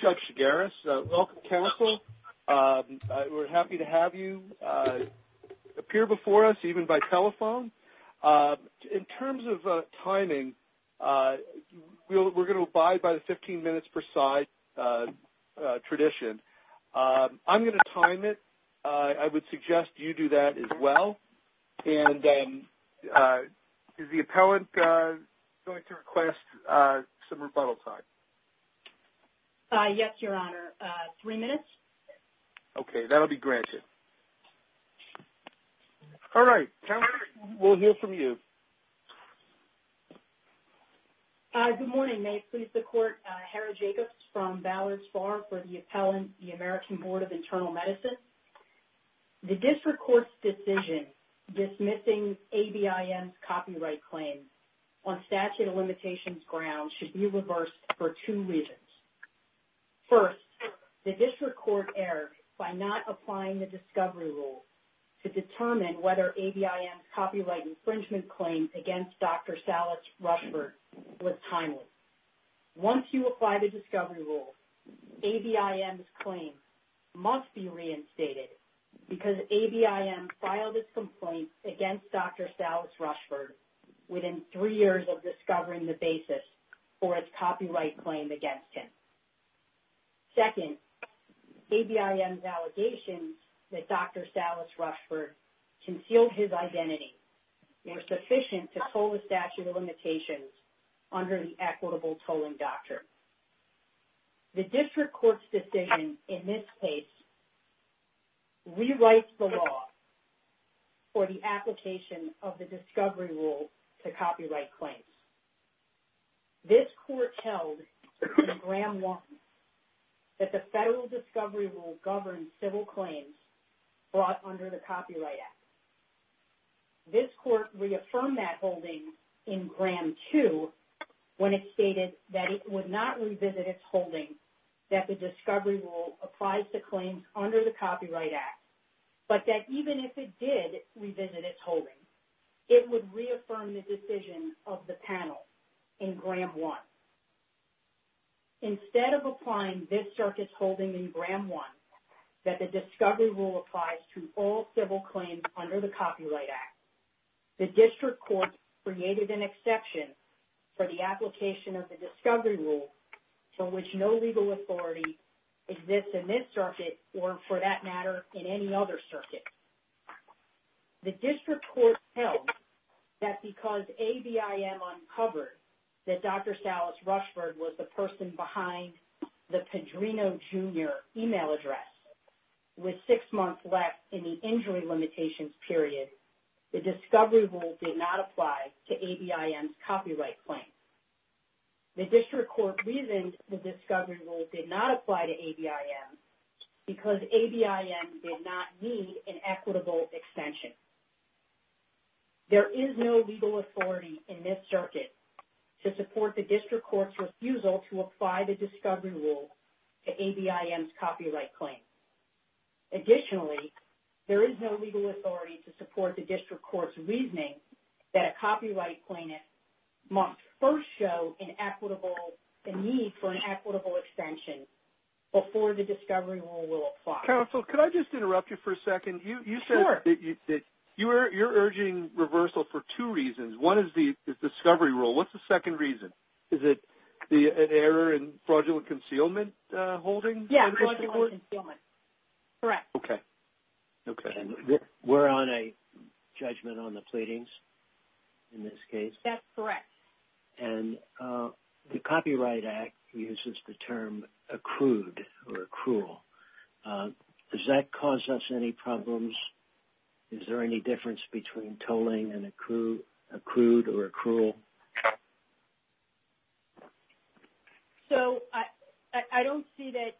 Judge Chigaris Welcome counsel. We're happy to have you appear before us even by telephone. In terms of timing, we're going to abide by the 15 minutes per side tradition. I'm going to time it. I would suggest you do that as well. And is the appellant going to request some rebuttal time? Yes, Your Honor. Three minutes. Okay. That will be granted. All right. Tamara, we'll hear from you. Good morning. May it please the Court? Hara Jacobs from Ballard's Farm for the Appellant, the American Board of Internal Medicine. The district court's decision dismissing ABIM's copyright claim on statute of limitations grounds should be reversed for two reasons. First, the district court erred by not applying the discovery rule to determine whether ABIM's copyright infringement claim against Dr. Salas Rushford was timely. Once you apply the discovery rule, ABIM's claim must be reinstated because ABIM filed its complaint against Dr. Salas Rushford within three years of discovering the basis for its copyright claim against him. Second, ABIM's allegations that Dr. Salas Rushford concealed his identity were sufficient to toll the statute of limitations under the equitable tolling doctrine. The district court's decision in this case rewrites the law for the application of the discovery rule to copyright claims. This court held in Gram 1 that the federal discovery rule governed civil claims brought under the Copyright Act. This court reaffirmed that holding in Gram 2 when it stated that it would not revisit its holding that the discovery rule applies to claims under the Copyright Act, but that even if it did revisit its holding, it would reaffirm the decision of the panel in Gram 1. Instead of applying this circuit's holding in Gram 1 that the discovery rule applies to all civil claims under the Copyright Act, the district court created an exception for the application of the discovery rule for which no legal authority exists in this circuit or, for that matter, in any other circuit. The district court held that because ABIM uncovered that Dr. Salas Rushford was the person behind the Pedrino Jr. email address with six months left in the injury limitations period, the discovery rule did not apply to ABIM's copyright claim. The district court reasoned the discovery rule did not apply to ABIM because ABIM did not need an equitable extension. There is no legal authority in this circuit to support the district court's refusal to apply the discovery rule to ABIM's copyright claim. Additionally, there is no legal authority to support the district court's reasoning that a copyright plaintiff must first show a need for an equitable extension before the discovery rule will apply. Counsel, could I just interrupt you for a second? Sure. You said that you're urging reversal for two reasons. One is the discovery rule. What's the second reason? Is it an error in fraudulent concealment holding? Yeah, fraudulent concealment. Correct. Okay. We're on a judgment on the pleadings in this case? That's correct. And the Copyright Act uses the term accrued or accrual. Does that cause us any problems? Is there any difference between tolling and accrued or accrual? So I don't see that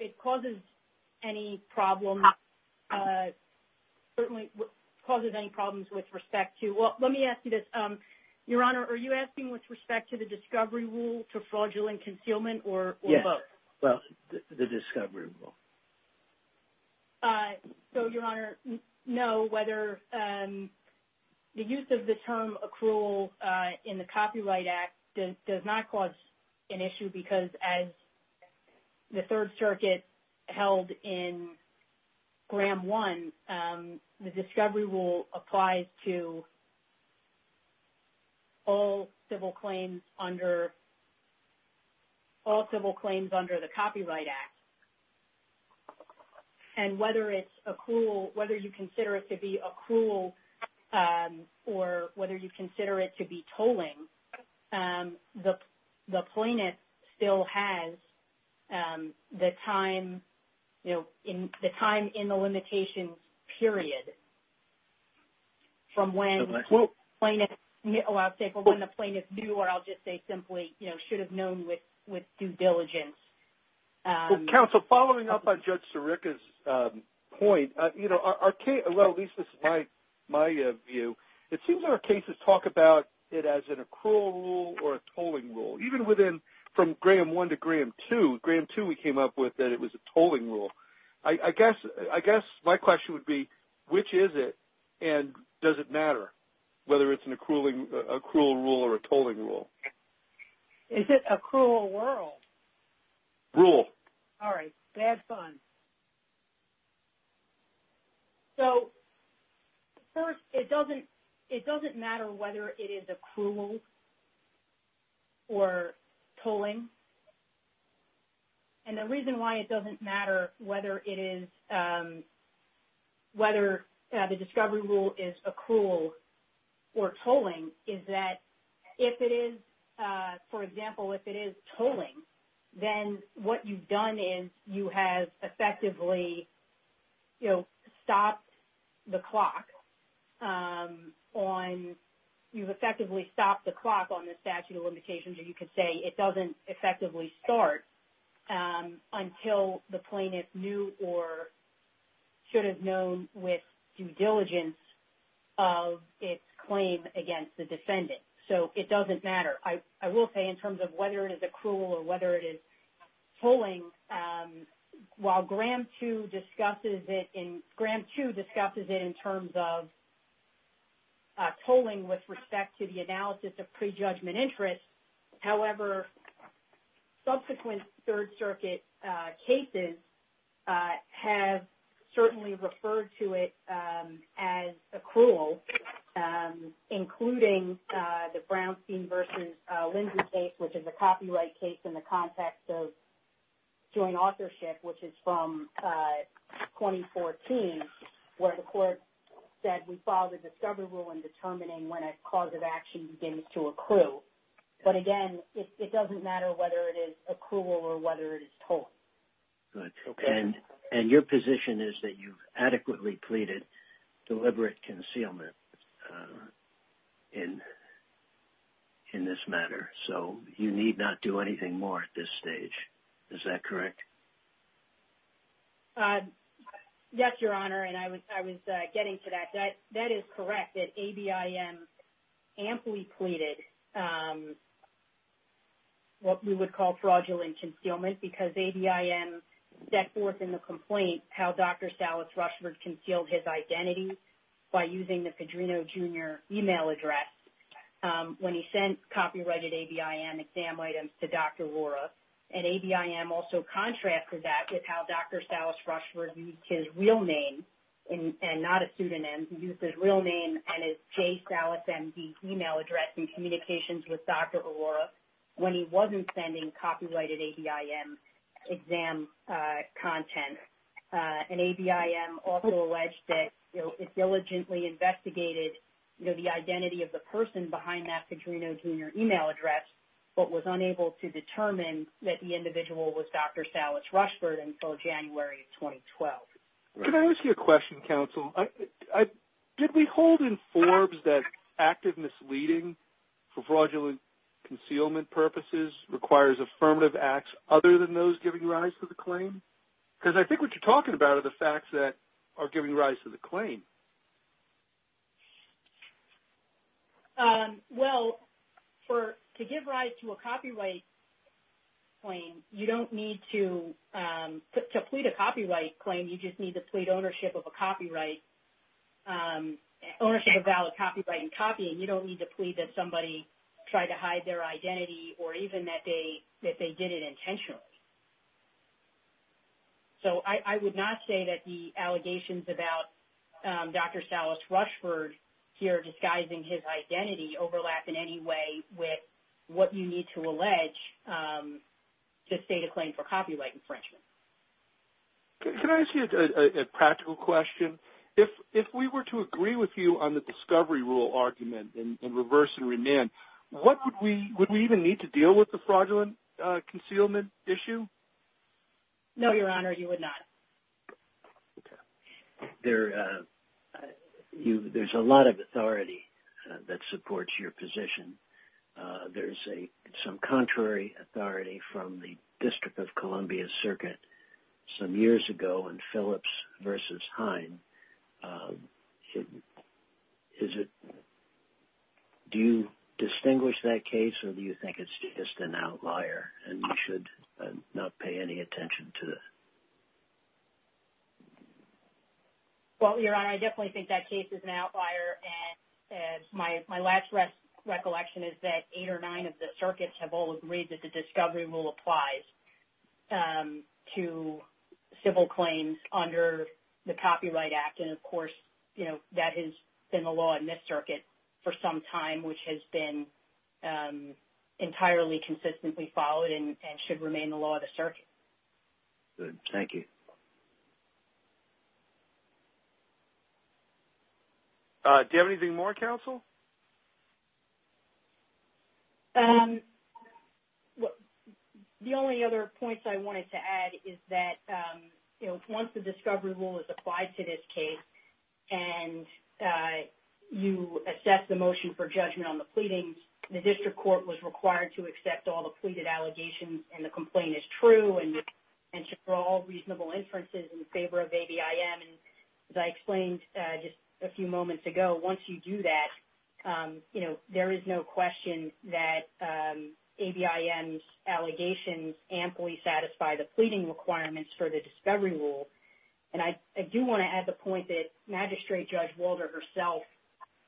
it causes any problems with respect to – well, let me ask you this. Your Honor, are you asking with respect to the discovery rule to fraudulent concealment or both? Yes, the discovery rule. So, Your Honor, no, whether the use of the term accrual in the Copyright Act does not cause an issue because, as the Third Circuit held in Gram 1, the discovery rule applies to all civil claims under the Copyright Act. And whether it's accrual – whether you consider it to be accrual or whether you consider it to be tolling, the plaintiff still has the time, you know, the time in the limitations period from when the plaintiff – oh, I'll say when the plaintiff knew or I'll just say simply, you know, should have known with due diligence. Counsel, following up on Judge Sirica's point, you know, our – well, at least this is my view. It seems our cases talk about it as an accrual rule or a tolling rule, even within – from Gram 1 to Gram 2. Gram 2 we came up with that it was a tolling rule. I guess my question would be, which is it and does it matter whether it's an accrual rule or a tolling rule? Is it accrual or world? Rule. All right. Bad pun. So, first, it doesn't matter whether it is accrual or tolling. And the reason why it doesn't matter whether it is – whether the discovery rule is accrual or tolling is that if it is – for example, if it is tolling, then what you've done is you have effectively, you know, stopped the clock on – it doesn't effectively start until the plaintiff knew or should have known with due diligence of its claim against the defendant. So, it doesn't matter. I will say in terms of whether it is accrual or whether it is tolling, while Gram 2 discusses it in – Gram 2 discusses it in terms of tolling with respect to the analysis of prejudgment interest. However, subsequent Third Circuit cases have certainly referred to it as accrual, including the Brownstein v. Lindsay case, which is a copyright case in the context of joint authorship, which is from 2014, where the court said we filed a discovery rule in determining when a cause of action begins to accrue. But, again, it doesn't matter whether it is accrual or whether it is tolling. Okay. And your position is that you've adequately pleaded deliberate concealment in this matter. So, you need not do anything more at this stage. Is that correct? Yes, Your Honor, and I was getting to that. That is correct that ABIM amply pleaded what we would call fraudulent concealment because ABIM set forth in the complaint how Dr. Salas Rushford concealed his identity by using the Padrino Jr. email address when he sent copyrighted ABIM exam items to Dr. O'Rourke. And ABIM also contrasted that with how Dr. Salas Rushford used his real name, and not a pseudonym, he used his real name and his J. Salas MD email address in communications with Dr. O'Rourke when he wasn't sending copyrighted ABIM exam content. And ABIM also alleged that it diligently investigated the identity of the person behind that Padrino Jr. email address but was unable to determine that the individual was Dr. Salas Rushford until January of 2012. Can I ask you a question, counsel? Did we hold in Forbes that active misleading for fraudulent concealment purposes requires affirmative acts other than those giving rise to the claim? Because I think what you're talking about are the facts that are giving rise to the claim. Well, to give rise to a copyright claim, you don't need to – to plead a copyright claim, you just need to plead ownership of a copyright, ownership of valid copyright in copying. You don't need to plead that somebody tried to hide their identity or even that they did it intentionally. So I would not say that the allegations about Dr. Salas Rushford here disguising his identity overlap in any way with what you need to allege to state a claim for copyright infringement. Can I ask you a practical question? If we were to agree with you on the discovery rule argument and reverse and remand, would we even need to deal with the fraudulent concealment issue? No, Your Honor, you would not. Okay. There's a lot of authority that supports your position. There's some contrary authority from the District of Columbia Circuit some years ago in Phillips v. Hine. Do you distinguish that case or do you think it's just an outlier and you should not pay any attention to it? Well, Your Honor, I definitely think that case is an outlier. My last recollection is that eight or nine of the circuits have all agreed that the discovery rule applies to civil claims under the Copyright Act, and, of course, that has been the law in this circuit for some time, which has been entirely consistently followed and should remain the law of the circuit. Good. Thank you. Do you have anything more, counsel? The only other points I wanted to add is that once the discovery rule is applied to this case and you assess the motion for judgment on the pleadings, the district court was required to accept all the pleaded allegations and the complaint is true and should draw all reasonable inferences in favor of ABIM. As I explained just a few moments ago, once you do that, you know, there is no question that ABIM's allegations amply satisfy the pleading requirements for the discovery rule. And I do want to add the point that Magistrate Judge Walder herself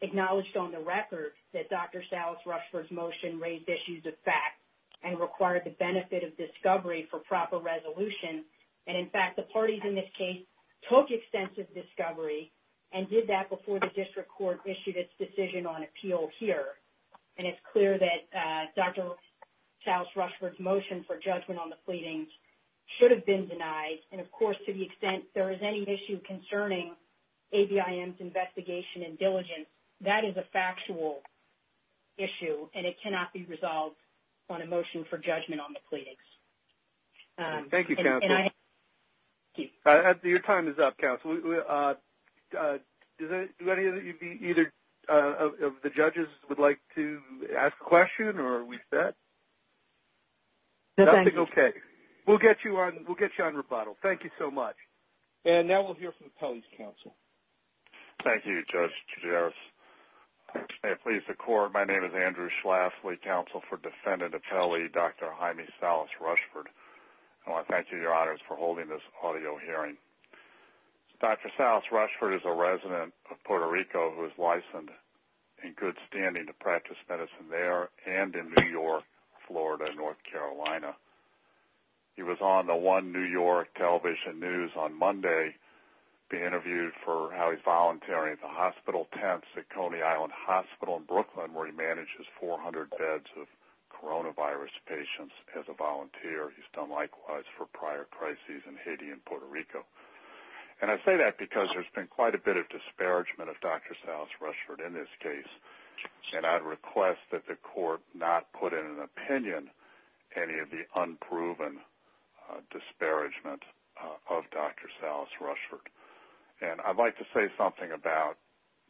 acknowledged on the record that Dr. Salas-Rushford's motion raised issues of fact and required the benefit of discovery for proper resolution. And, in fact, the parties in this case took extensive discovery and did that before the district court issued its decision on appeal here. And it's clear that Dr. Salas-Rushford's motion for judgment on the pleadings should have been denied. And, of course, to the extent there is any issue concerning ABIM's investigation and diligence, that is a factual issue and it cannot be resolved on a motion for judgment on the pleadings. Thank you, Counselor. Your time is up, Counselor. Do any of the judges would like to ask a question or are we set? Nothing? Okay. We'll get you on rebuttal. Thank you so much. And now we'll hear from the Police Counsel. Thank you, Judge Chigeres. May it please the Court, my name is Andrew Schlaff, Lead Counsel for Defendant Apelli, Dr. Jaime Salas-Rushford. I want to thank you, Your Honors, for holding this audio hearing. Dr. Salas-Rushford is a resident of Puerto Rico who is licensed in good standing to practice medicine there and in New York, Florida, North Carolina. He was on the one New York television news on Monday being interviewed for how he's volunteering at the Hospital Tents at Coney Island Hospital in Brooklyn where he manages 400 beds of coronavirus patients as a volunteer. He's done likewise for prior crises in Haiti and Puerto Rico. And I say that because there's been quite a bit of disparagement of Dr. Salas-Rushford in this case, and I'd request that the Court not put in an opinion any of the unproven disparagement of Dr. Salas-Rushford. And I'd like to say something about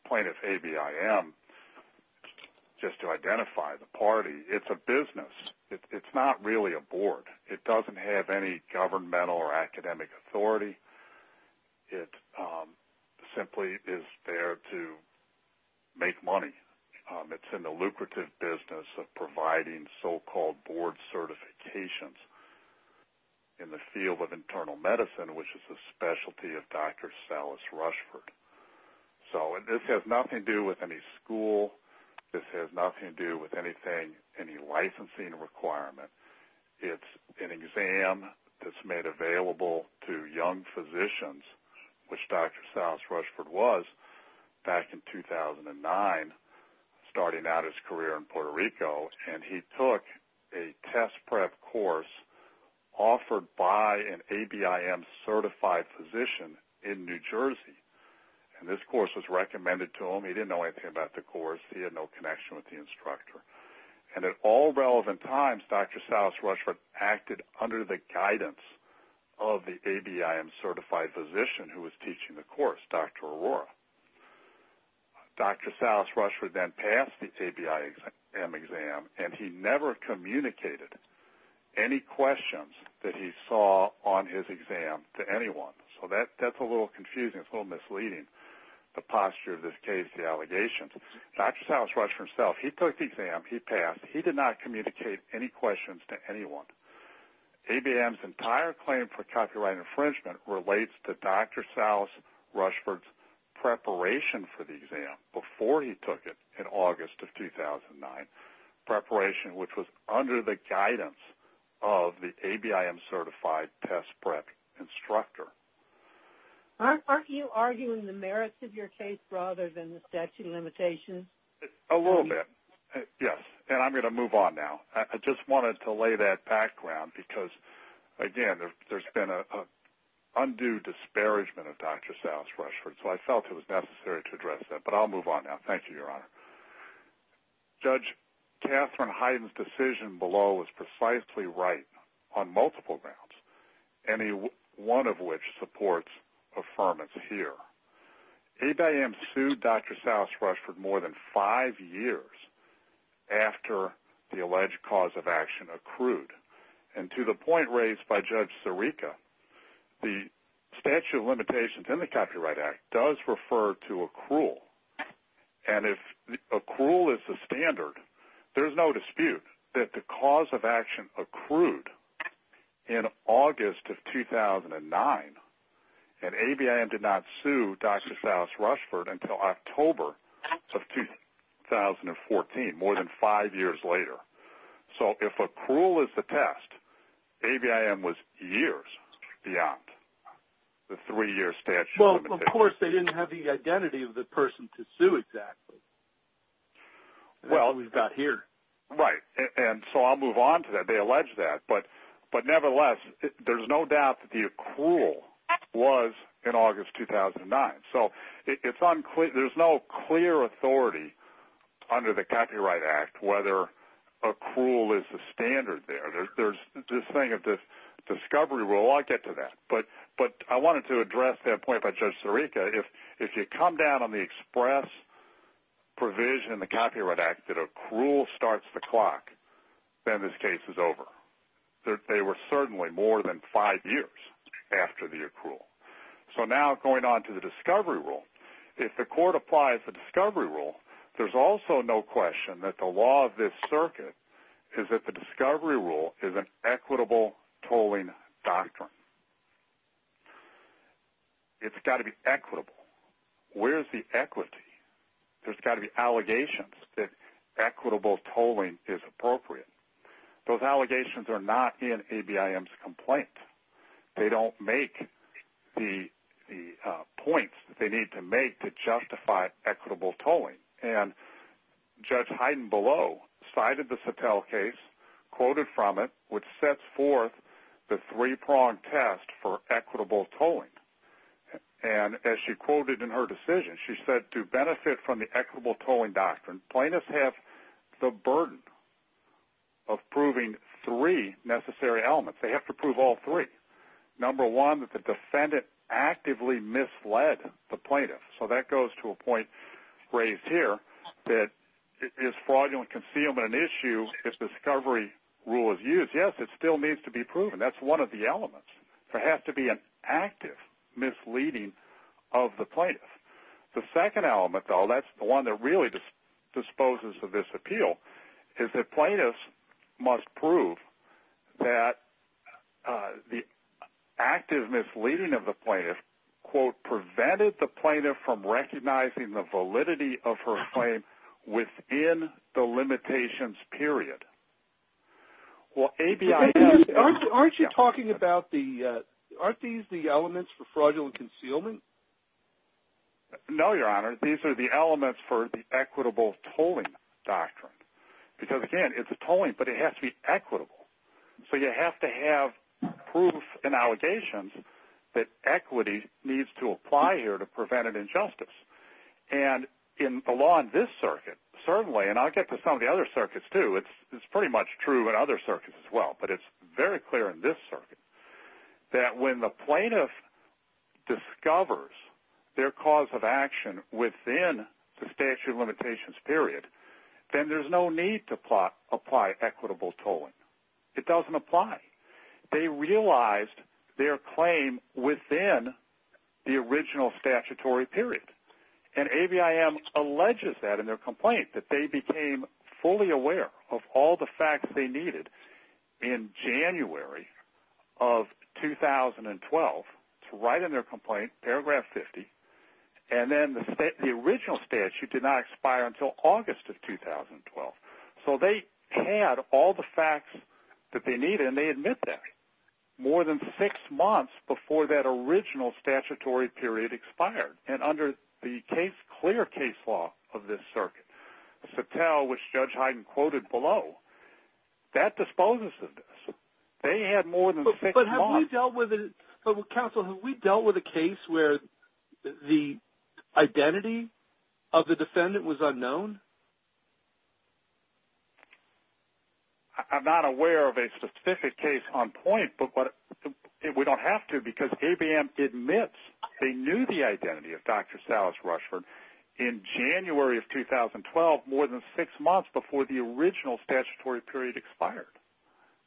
Plaintiff A.B.I.M. Just to identify the party, it's a business. It's not really a board. It doesn't have any governmental or academic authority. It simply is there to make money. It's in the lucrative business of providing so-called board certifications in the field of internal medicine, which is the specialty of Dr. Salas-Rushford. So this has nothing to do with any school. This has nothing to do with anything, any licensing requirement. It's an exam that's made available to young physicians, which Dr. Salas-Rushford was back in 2009 starting out his career in Puerto Rico, and he took a test prep course offered by an A.B.I.M.-certified physician in New Jersey. And this course was recommended to him. He didn't know anything about the course. He had no connection with the instructor. And at all relevant times, Dr. Salas-Rushford acted under the guidance of the A.B.I.M.-certified physician who was teaching the course, Dr. Arora. Dr. Salas-Rushford then passed the A.B.I.M. exam, and he never communicated any questions that he saw on his exam to anyone. So that's a little confusing. It's a little misleading, the posture of this case, the allegations. Dr. Salas-Rushford himself, he took the exam, he passed, he did not communicate any questions to anyone. A.B.I.M.'s entire claim for copyright infringement relates to Dr. Salas-Rushford's preparation for the exam, before he took it in August of 2009, preparation which was under the guidance of the A.B.I.M.-certified test prep instructor. Aren't you arguing the merits of your case rather than the statute of limitations? A little bit, yes. And I'm going to move on now. I just wanted to lay that background because, again, there's been an undue disparagement of Dr. Salas-Rushford, so I felt it was necessary to address that. But I'll move on now. Thank you, Your Honor. Judge Katherine Heiden's decision below is precisely right on multiple grounds, any one of which supports affirmance here. A.B.I.M. sued Dr. Salas-Rushford more than five years after the alleged cause of action accrued. And to the point raised by Judge Sirica, the statute of limitations in the Copyright Act does refer to accrual. And if accrual is the standard, there's no dispute that the cause of action accrued in August of 2009, and A.B.I.M. did not sue Dr. Salas-Rushford until October of 2014, more than five years later. So if accrual is the test, A.B.I.M. was years beyond the three-year statute of limitations. And, of course, they didn't have the identity of the person to sue exactly. That's what we've got here. Right. And so I'll move on to that. They allege that. But nevertheless, there's no doubt that the accrual was in August 2009. So there's no clear authority under the Copyright Act whether accrual is the standard there. This thing of discovery, we'll all get to that. But I wanted to address that point by Judge Sirica. If you come down on the express provision in the Copyright Act that accrual starts the clock, then this case is over. They were certainly more than five years after the accrual. So now going on to the discovery rule, if the court applies the discovery rule, there's also no question that the law of this circuit is that the discovery rule is an equitable tolling doctrine. It's got to be equitable. Where's the equity? There's got to be allegations that equitable tolling is appropriate. Those allegations are not in A.B.I.M.'s complaint. They don't make the points that they need to make to justify equitable tolling. And Judge Heidenbelow cited the Satel case, quoted from it, which sets forth the three-pronged test for equitable tolling. And as she quoted in her decision, she said to benefit from the equitable tolling doctrine, plaintiffs have the burden of proving three necessary elements. They have to prove all three. Number one, that the defendant actively misled the plaintiff. So that goes to a point raised here, that is fraudulent concealment an issue if discovery rule is used? Yes, it still needs to be proven. That's one of the elements. There has to be an active misleading of the plaintiff. The second element, though, that's the one that really disposes of this appeal, is that plaintiffs must prove that the active misleading of the plaintiff, quote, prevented the plaintiff from recognizing the validity of her claim within the limitations period. Aren't you talking about the – aren't these the elements for fraudulent concealment? No, Your Honor. These are the elements for the equitable tolling doctrine. Because, again, it's a tolling, but it has to be equitable. So you have to have proof and allegations that equity needs to apply here to prevent an injustice. And in the law in this circuit, certainly, and I'll get to some of the other circuits too, it's pretty much true in other circuits as well, but it's very clear in this circuit, that when the plaintiff discovers their cause of action within the statute of limitations period, then there's no need to apply equitable tolling. It doesn't apply. They realized their claim within the original statutory period. And ABIM alleges that in their complaint, that they became fully aware of all the facts they needed in January of 2012. It's right in their complaint, paragraph 50. And then the original statute did not expire until August of 2012. So they had all the facts that they needed, and they admit that, more than six months before that original statutory period expired. And under the clear case law of this circuit, Satel, which Judge Heiden quoted below, that disposes of this. They had more than six months. But, Counsel, have we dealt with a case where the identity of the defendant was unknown? I'm not aware of a specific case on point, but we don't have to, because ABIM admits they knew the identity of Dr. Sallis Rushford in January of 2012, more than six months before the original statutory period expired.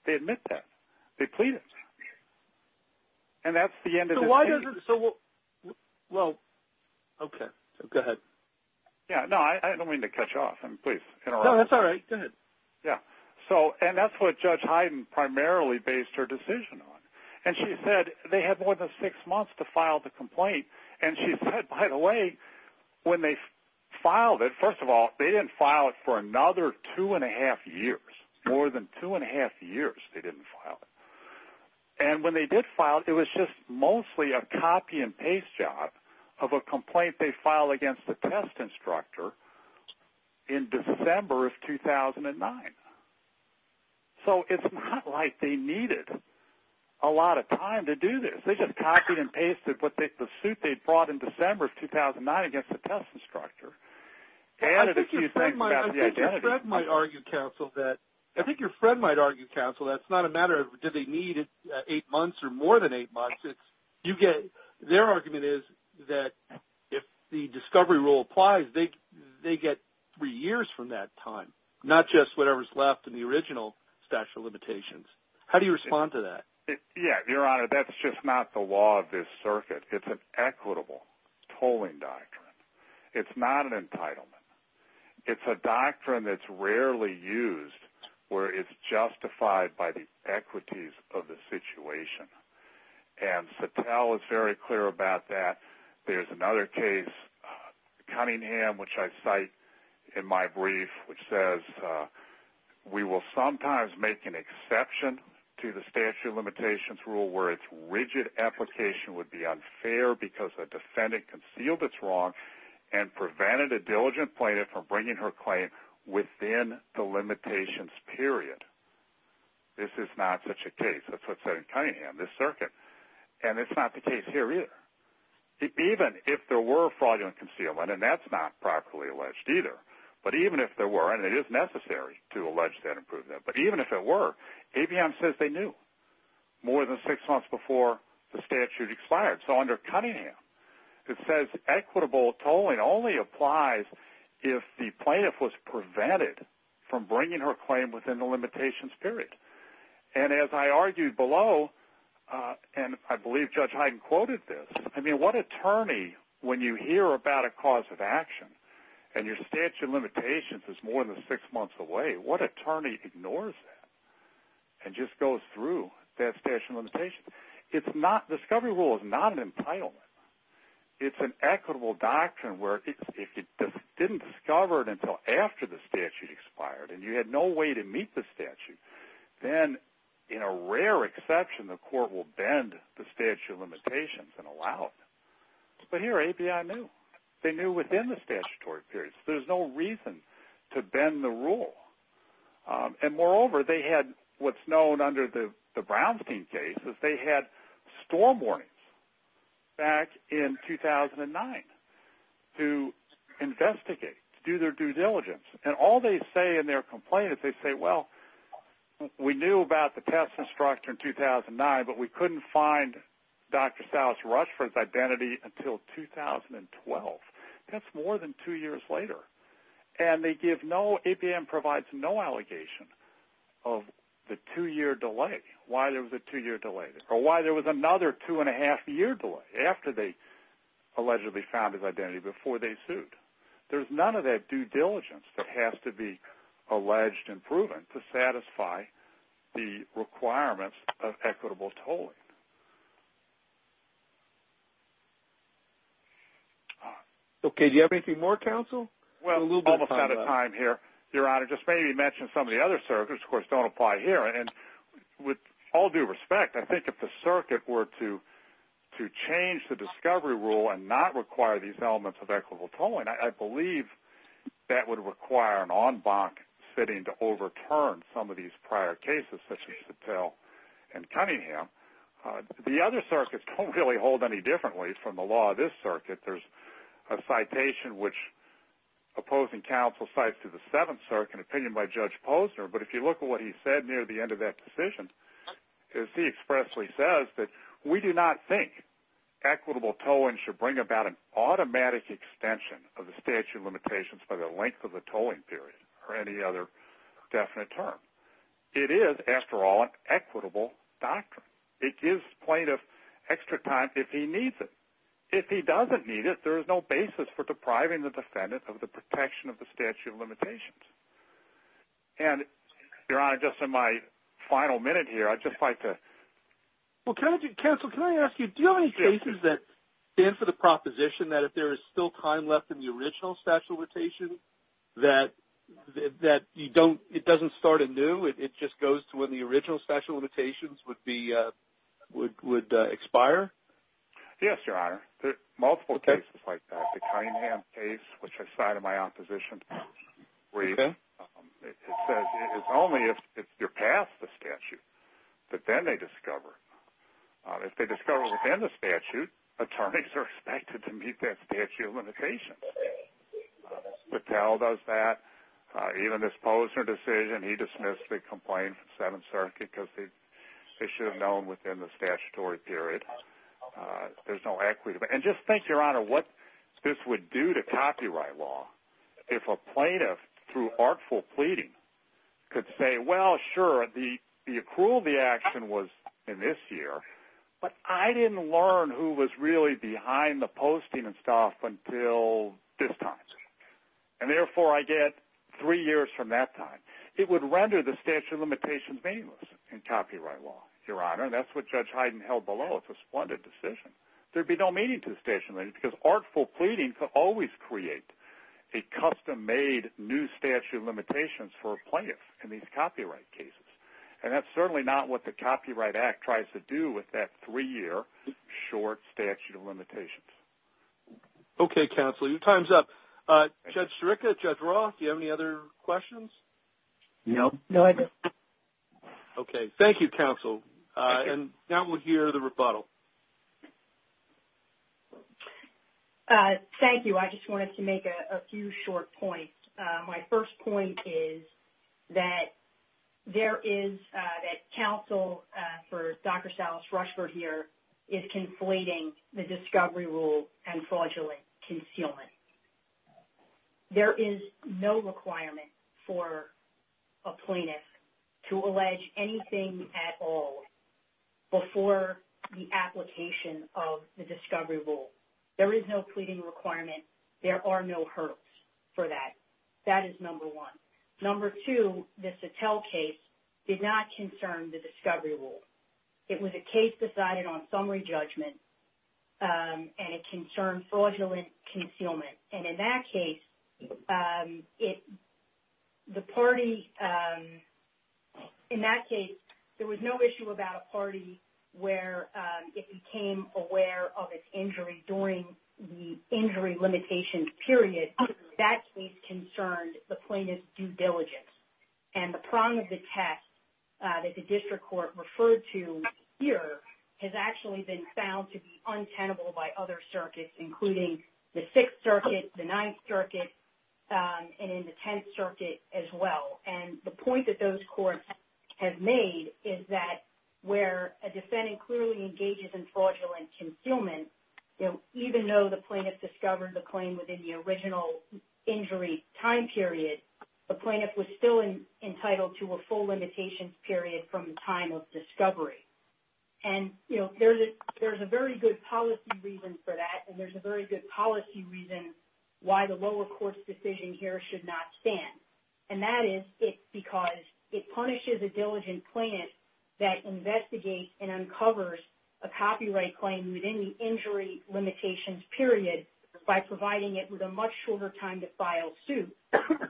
They admit that. They plead it. And that's the end of this case. So why doesn't, so, well, okay, so go ahead. Yeah, no, I don't mean to cut you off. I mean, please, interrupt. No, that's all right. Go ahead. Yeah. So, and that's what Judge Heiden primarily based her decision on. And she said they had more than six months to file the complaint. And she said, by the way, when they filed it, first of all, they didn't file it for another two-and-a-half years, more than two-and-a-half years they didn't file it. And when they did file it, it was just mostly a copy-and-paste job of a complaint they filed against the test instructor in December of 2009. So it's not like they needed a lot of time to do this. They just copied and pasted the suit they'd brought in December of 2009 against the test instructor. I think your friend might argue, counsel, that it's not a matter of do they need eight months or more than eight months. Their argument is that if the discovery rule applies, they get three years from that time, not just whatever's left in the original statute of limitations. How do you respond to that? Yeah. Your Honor, that's just not the law of this circuit. It's an equitable tolling doctrine. It's not an entitlement. It's a doctrine that's rarely used where it's justified by the equities of the situation. And Satel is very clear about that. There's another case, Cunningham, which I cite in my brief, which says, we will sometimes make an exception to the statute of limitations rule where its rigid application would be unfair because a defendant concealed its wrong and prevented a diligent plaintiff from bringing her claim within the limitations period. This is not such a case. That's what's said in Cunningham, this circuit. And it's not the case here either. Even if there were fraudulent concealment, and that's not properly alleged either, but even if there were, and it is necessary to allege that improvement, but even if it were, ABM says they knew more than six months before the statute expired. So under Cunningham, it says equitable tolling only applies if the plaintiff was prevented from bringing her claim within the limitations period. And as I argued below, and I believe Judge Hyden quoted this, I mean, what attorney, when you hear about a cause of action and your statute of limitations is more than six months away, what attorney ignores that and just goes through that statute of limitations? The discovery rule is not an entitlement. It's an equitable doctrine where if you didn't discover it until after the statute expired and you had no way to meet the statute, then in a rare exception, the court will bend the statute of limitations and allow it. But here, ABI knew. They knew within the statutory period. There's no reason to bend the rule. And moreover, they had what's known under the Brownstein case is they had storm warnings back in 2009 to investigate, to do their due diligence. And all they say in their complaint is they say, well, we knew about the testing structure in 2009, but we couldn't find Dr. Salas Rushford's identity until 2012. That's more than two years later. And they give no, APM provides no allegation of the two-year delay, why there was a two-year delay, or why there was another two-and-a-half-year delay after they allegedly found his identity before they sued. There's none of that due diligence that has to be alleged and proven to satisfy the requirements of equitable tolling. Okay. Do you have anything more, counsel? Well, we're almost out of time here, Your Honor. Just maybe mention some of the other circuits. Of course, don't apply here. And with all due respect, I think if the circuit were to change the discovery rule and not require these elements of equitable tolling, I believe that would require an en banc sitting to overturn some of these prior cases, such as Sattel and Cunningham. The other circuits don't really hold any differently from the law of this circuit. There's a citation which opposing counsel cites to the Seventh Circuit, an opinion by Judge Posner. But if you look at what he said near the end of that decision, he expressly says that we do not think equitable tolling should bring about an automatic extension of the statute of limitations by the length of the tolling period or any other definite term. It is, after all, an equitable doctrine. It gives plaintiff extra time if he needs it. If he doesn't need it, there is no basis for depriving the defendant of the protection of the statute of limitations. And, Your Honor, just in my final minute here, I'd just like to... Well, counsel, can I ask you, do you have any cases that stand for the proposition that if there is still time left in the original statute of limitations, that it doesn't start anew? It just goes to when the original statute of limitations would expire? Yes, Your Honor. There are multiple cases like that. The Cunningham case, which I cited in my opposition brief, it says it's only if you're past the statute that then they discover. If they discover within the statute, attorneys are expected to meet that statute of limitations. Patel does that. Even this Posner decision, he dismissed the complaint from Seventh Circuit because they should have known within the statutory period. There's no equity. And just think, Your Honor, what this would do to copyright law if a plaintiff, through artful pleading, could say, well, sure, the accrual of the action was in this year, but I didn't learn who was really behind the posting and stuff until this time. And, therefore, I get three years from that time. It would render the statute of limitations meaningless in copyright law, Your Honor. That's what Judge Hyden held below. It's a splendid decision. There would be no meaning to the statute of limitations because artful pleading could always create a custom-made new statute of limitations for a plaintiff in these copyright cases. And that's certainly not what the Copyright Act tries to do with that three-year, short statute of limitations. Okay, counsel. Your time is up. Judge Sirica, Judge Roth, do you have any other questions? No. Okay. Thank you, counsel. And now we'll hear the rebuttal. Thank you. I just wanted to make a few short points. My first point is that there is that counsel for Dr. Salas Rushford here is conflating the discovery rule and fraudulent concealment. There is no requirement for a plaintiff to allege anything at all before the application of the discovery rule. There is no pleading requirement. There are no hurdles for that. That is number one. Number two, the Sattel case did not concern the discovery rule. It was a case decided on summary judgment and it concerned fraudulent concealment. And in that case, there was no issue about a party where it became aware of its injury during the injury limitations period. That case concerned the plaintiff's due diligence. And the prong of the test that the district court referred to here has actually been found to be untenable by other circuits, including the Sixth Circuit, the Ninth Circuit, and in the Tenth Circuit as well. And the point that those courts have made is that where a defendant clearly engages in fraudulent concealment, even though the plaintiff discovered the injury time period, the plaintiff was still entitled to a full limitations period from the time of discovery. And there's a very good policy reason for that, and there's a very good policy reason why the lower court's decision here should not stand. And that is because it punishes a diligent plaintiff that investigates and uncovers a copyright claim within the injury limitations period by providing it with a much shorter time to file suit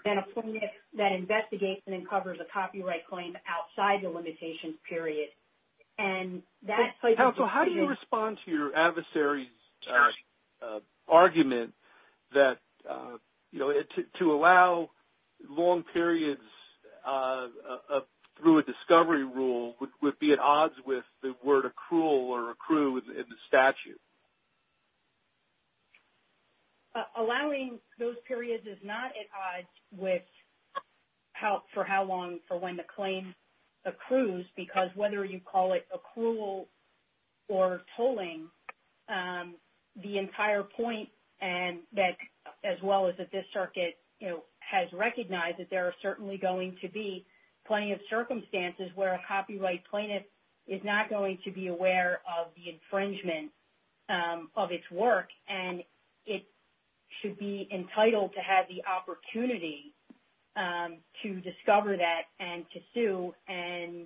than a plaintiff that investigates and uncovers a copyright claim outside the limitations period. And that places the plaintiff... So how do you respond to your adversary's argument that, you know, to allow long periods through a discovery rule would be at odds with the word accrual or accrue in the statute? Allowing those periods is not at odds with for how long for when the claim accrues, because whether you call it accrual or tolling, the entire point that, as well as that this circuit has recognized that there are certainly going to be plenty of circumstances where a copyright plaintiff is not going to be aware of the infringement of its work, and it should be entitled to have the opportunity to discover that and to sue. And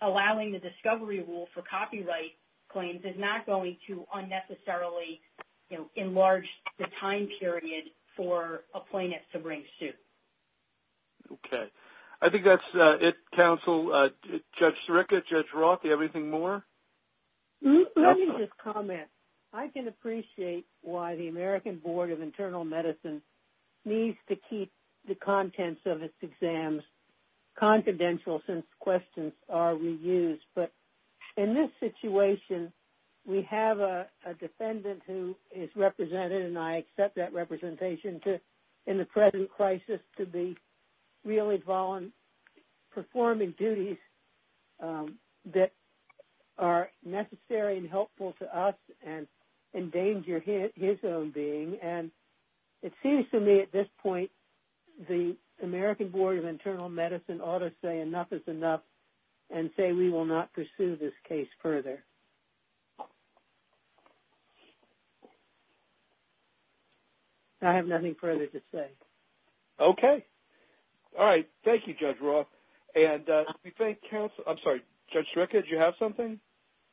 allowing the discovery rule for copyright claims is not going to unnecessarily, you know, enlarge the time period for a plaintiff to bring suit. Okay. I think that's it, counsel. Judge Sirica, Judge Roth, do you have anything more? Let me just comment. I can appreciate why the American Board of Internal Medicine needs to keep the contents of its exams confidential since questions are reused. But in this situation, we have a defendant who is represented, and I accept that representation in the present crisis to be really performing duties that are necessary and helpful to us and endanger his own being. And it seems to me at this point the American Board of Internal Medicine ought to say I have nothing further to say. Okay. All right. Thank you, Judge Roth. And we thank counsel. I'm sorry, Judge Sirica, did you have something?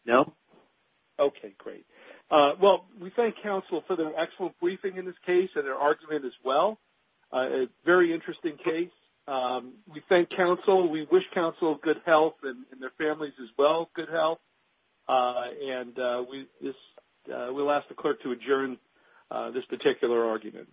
No. Okay, great. Well, we thank counsel for their excellent briefing in this case and their argument as well. A very interesting case. We thank counsel. We wish counsel good health and their families as well good health. And we'll ask the clerk to adjourn this particular argument.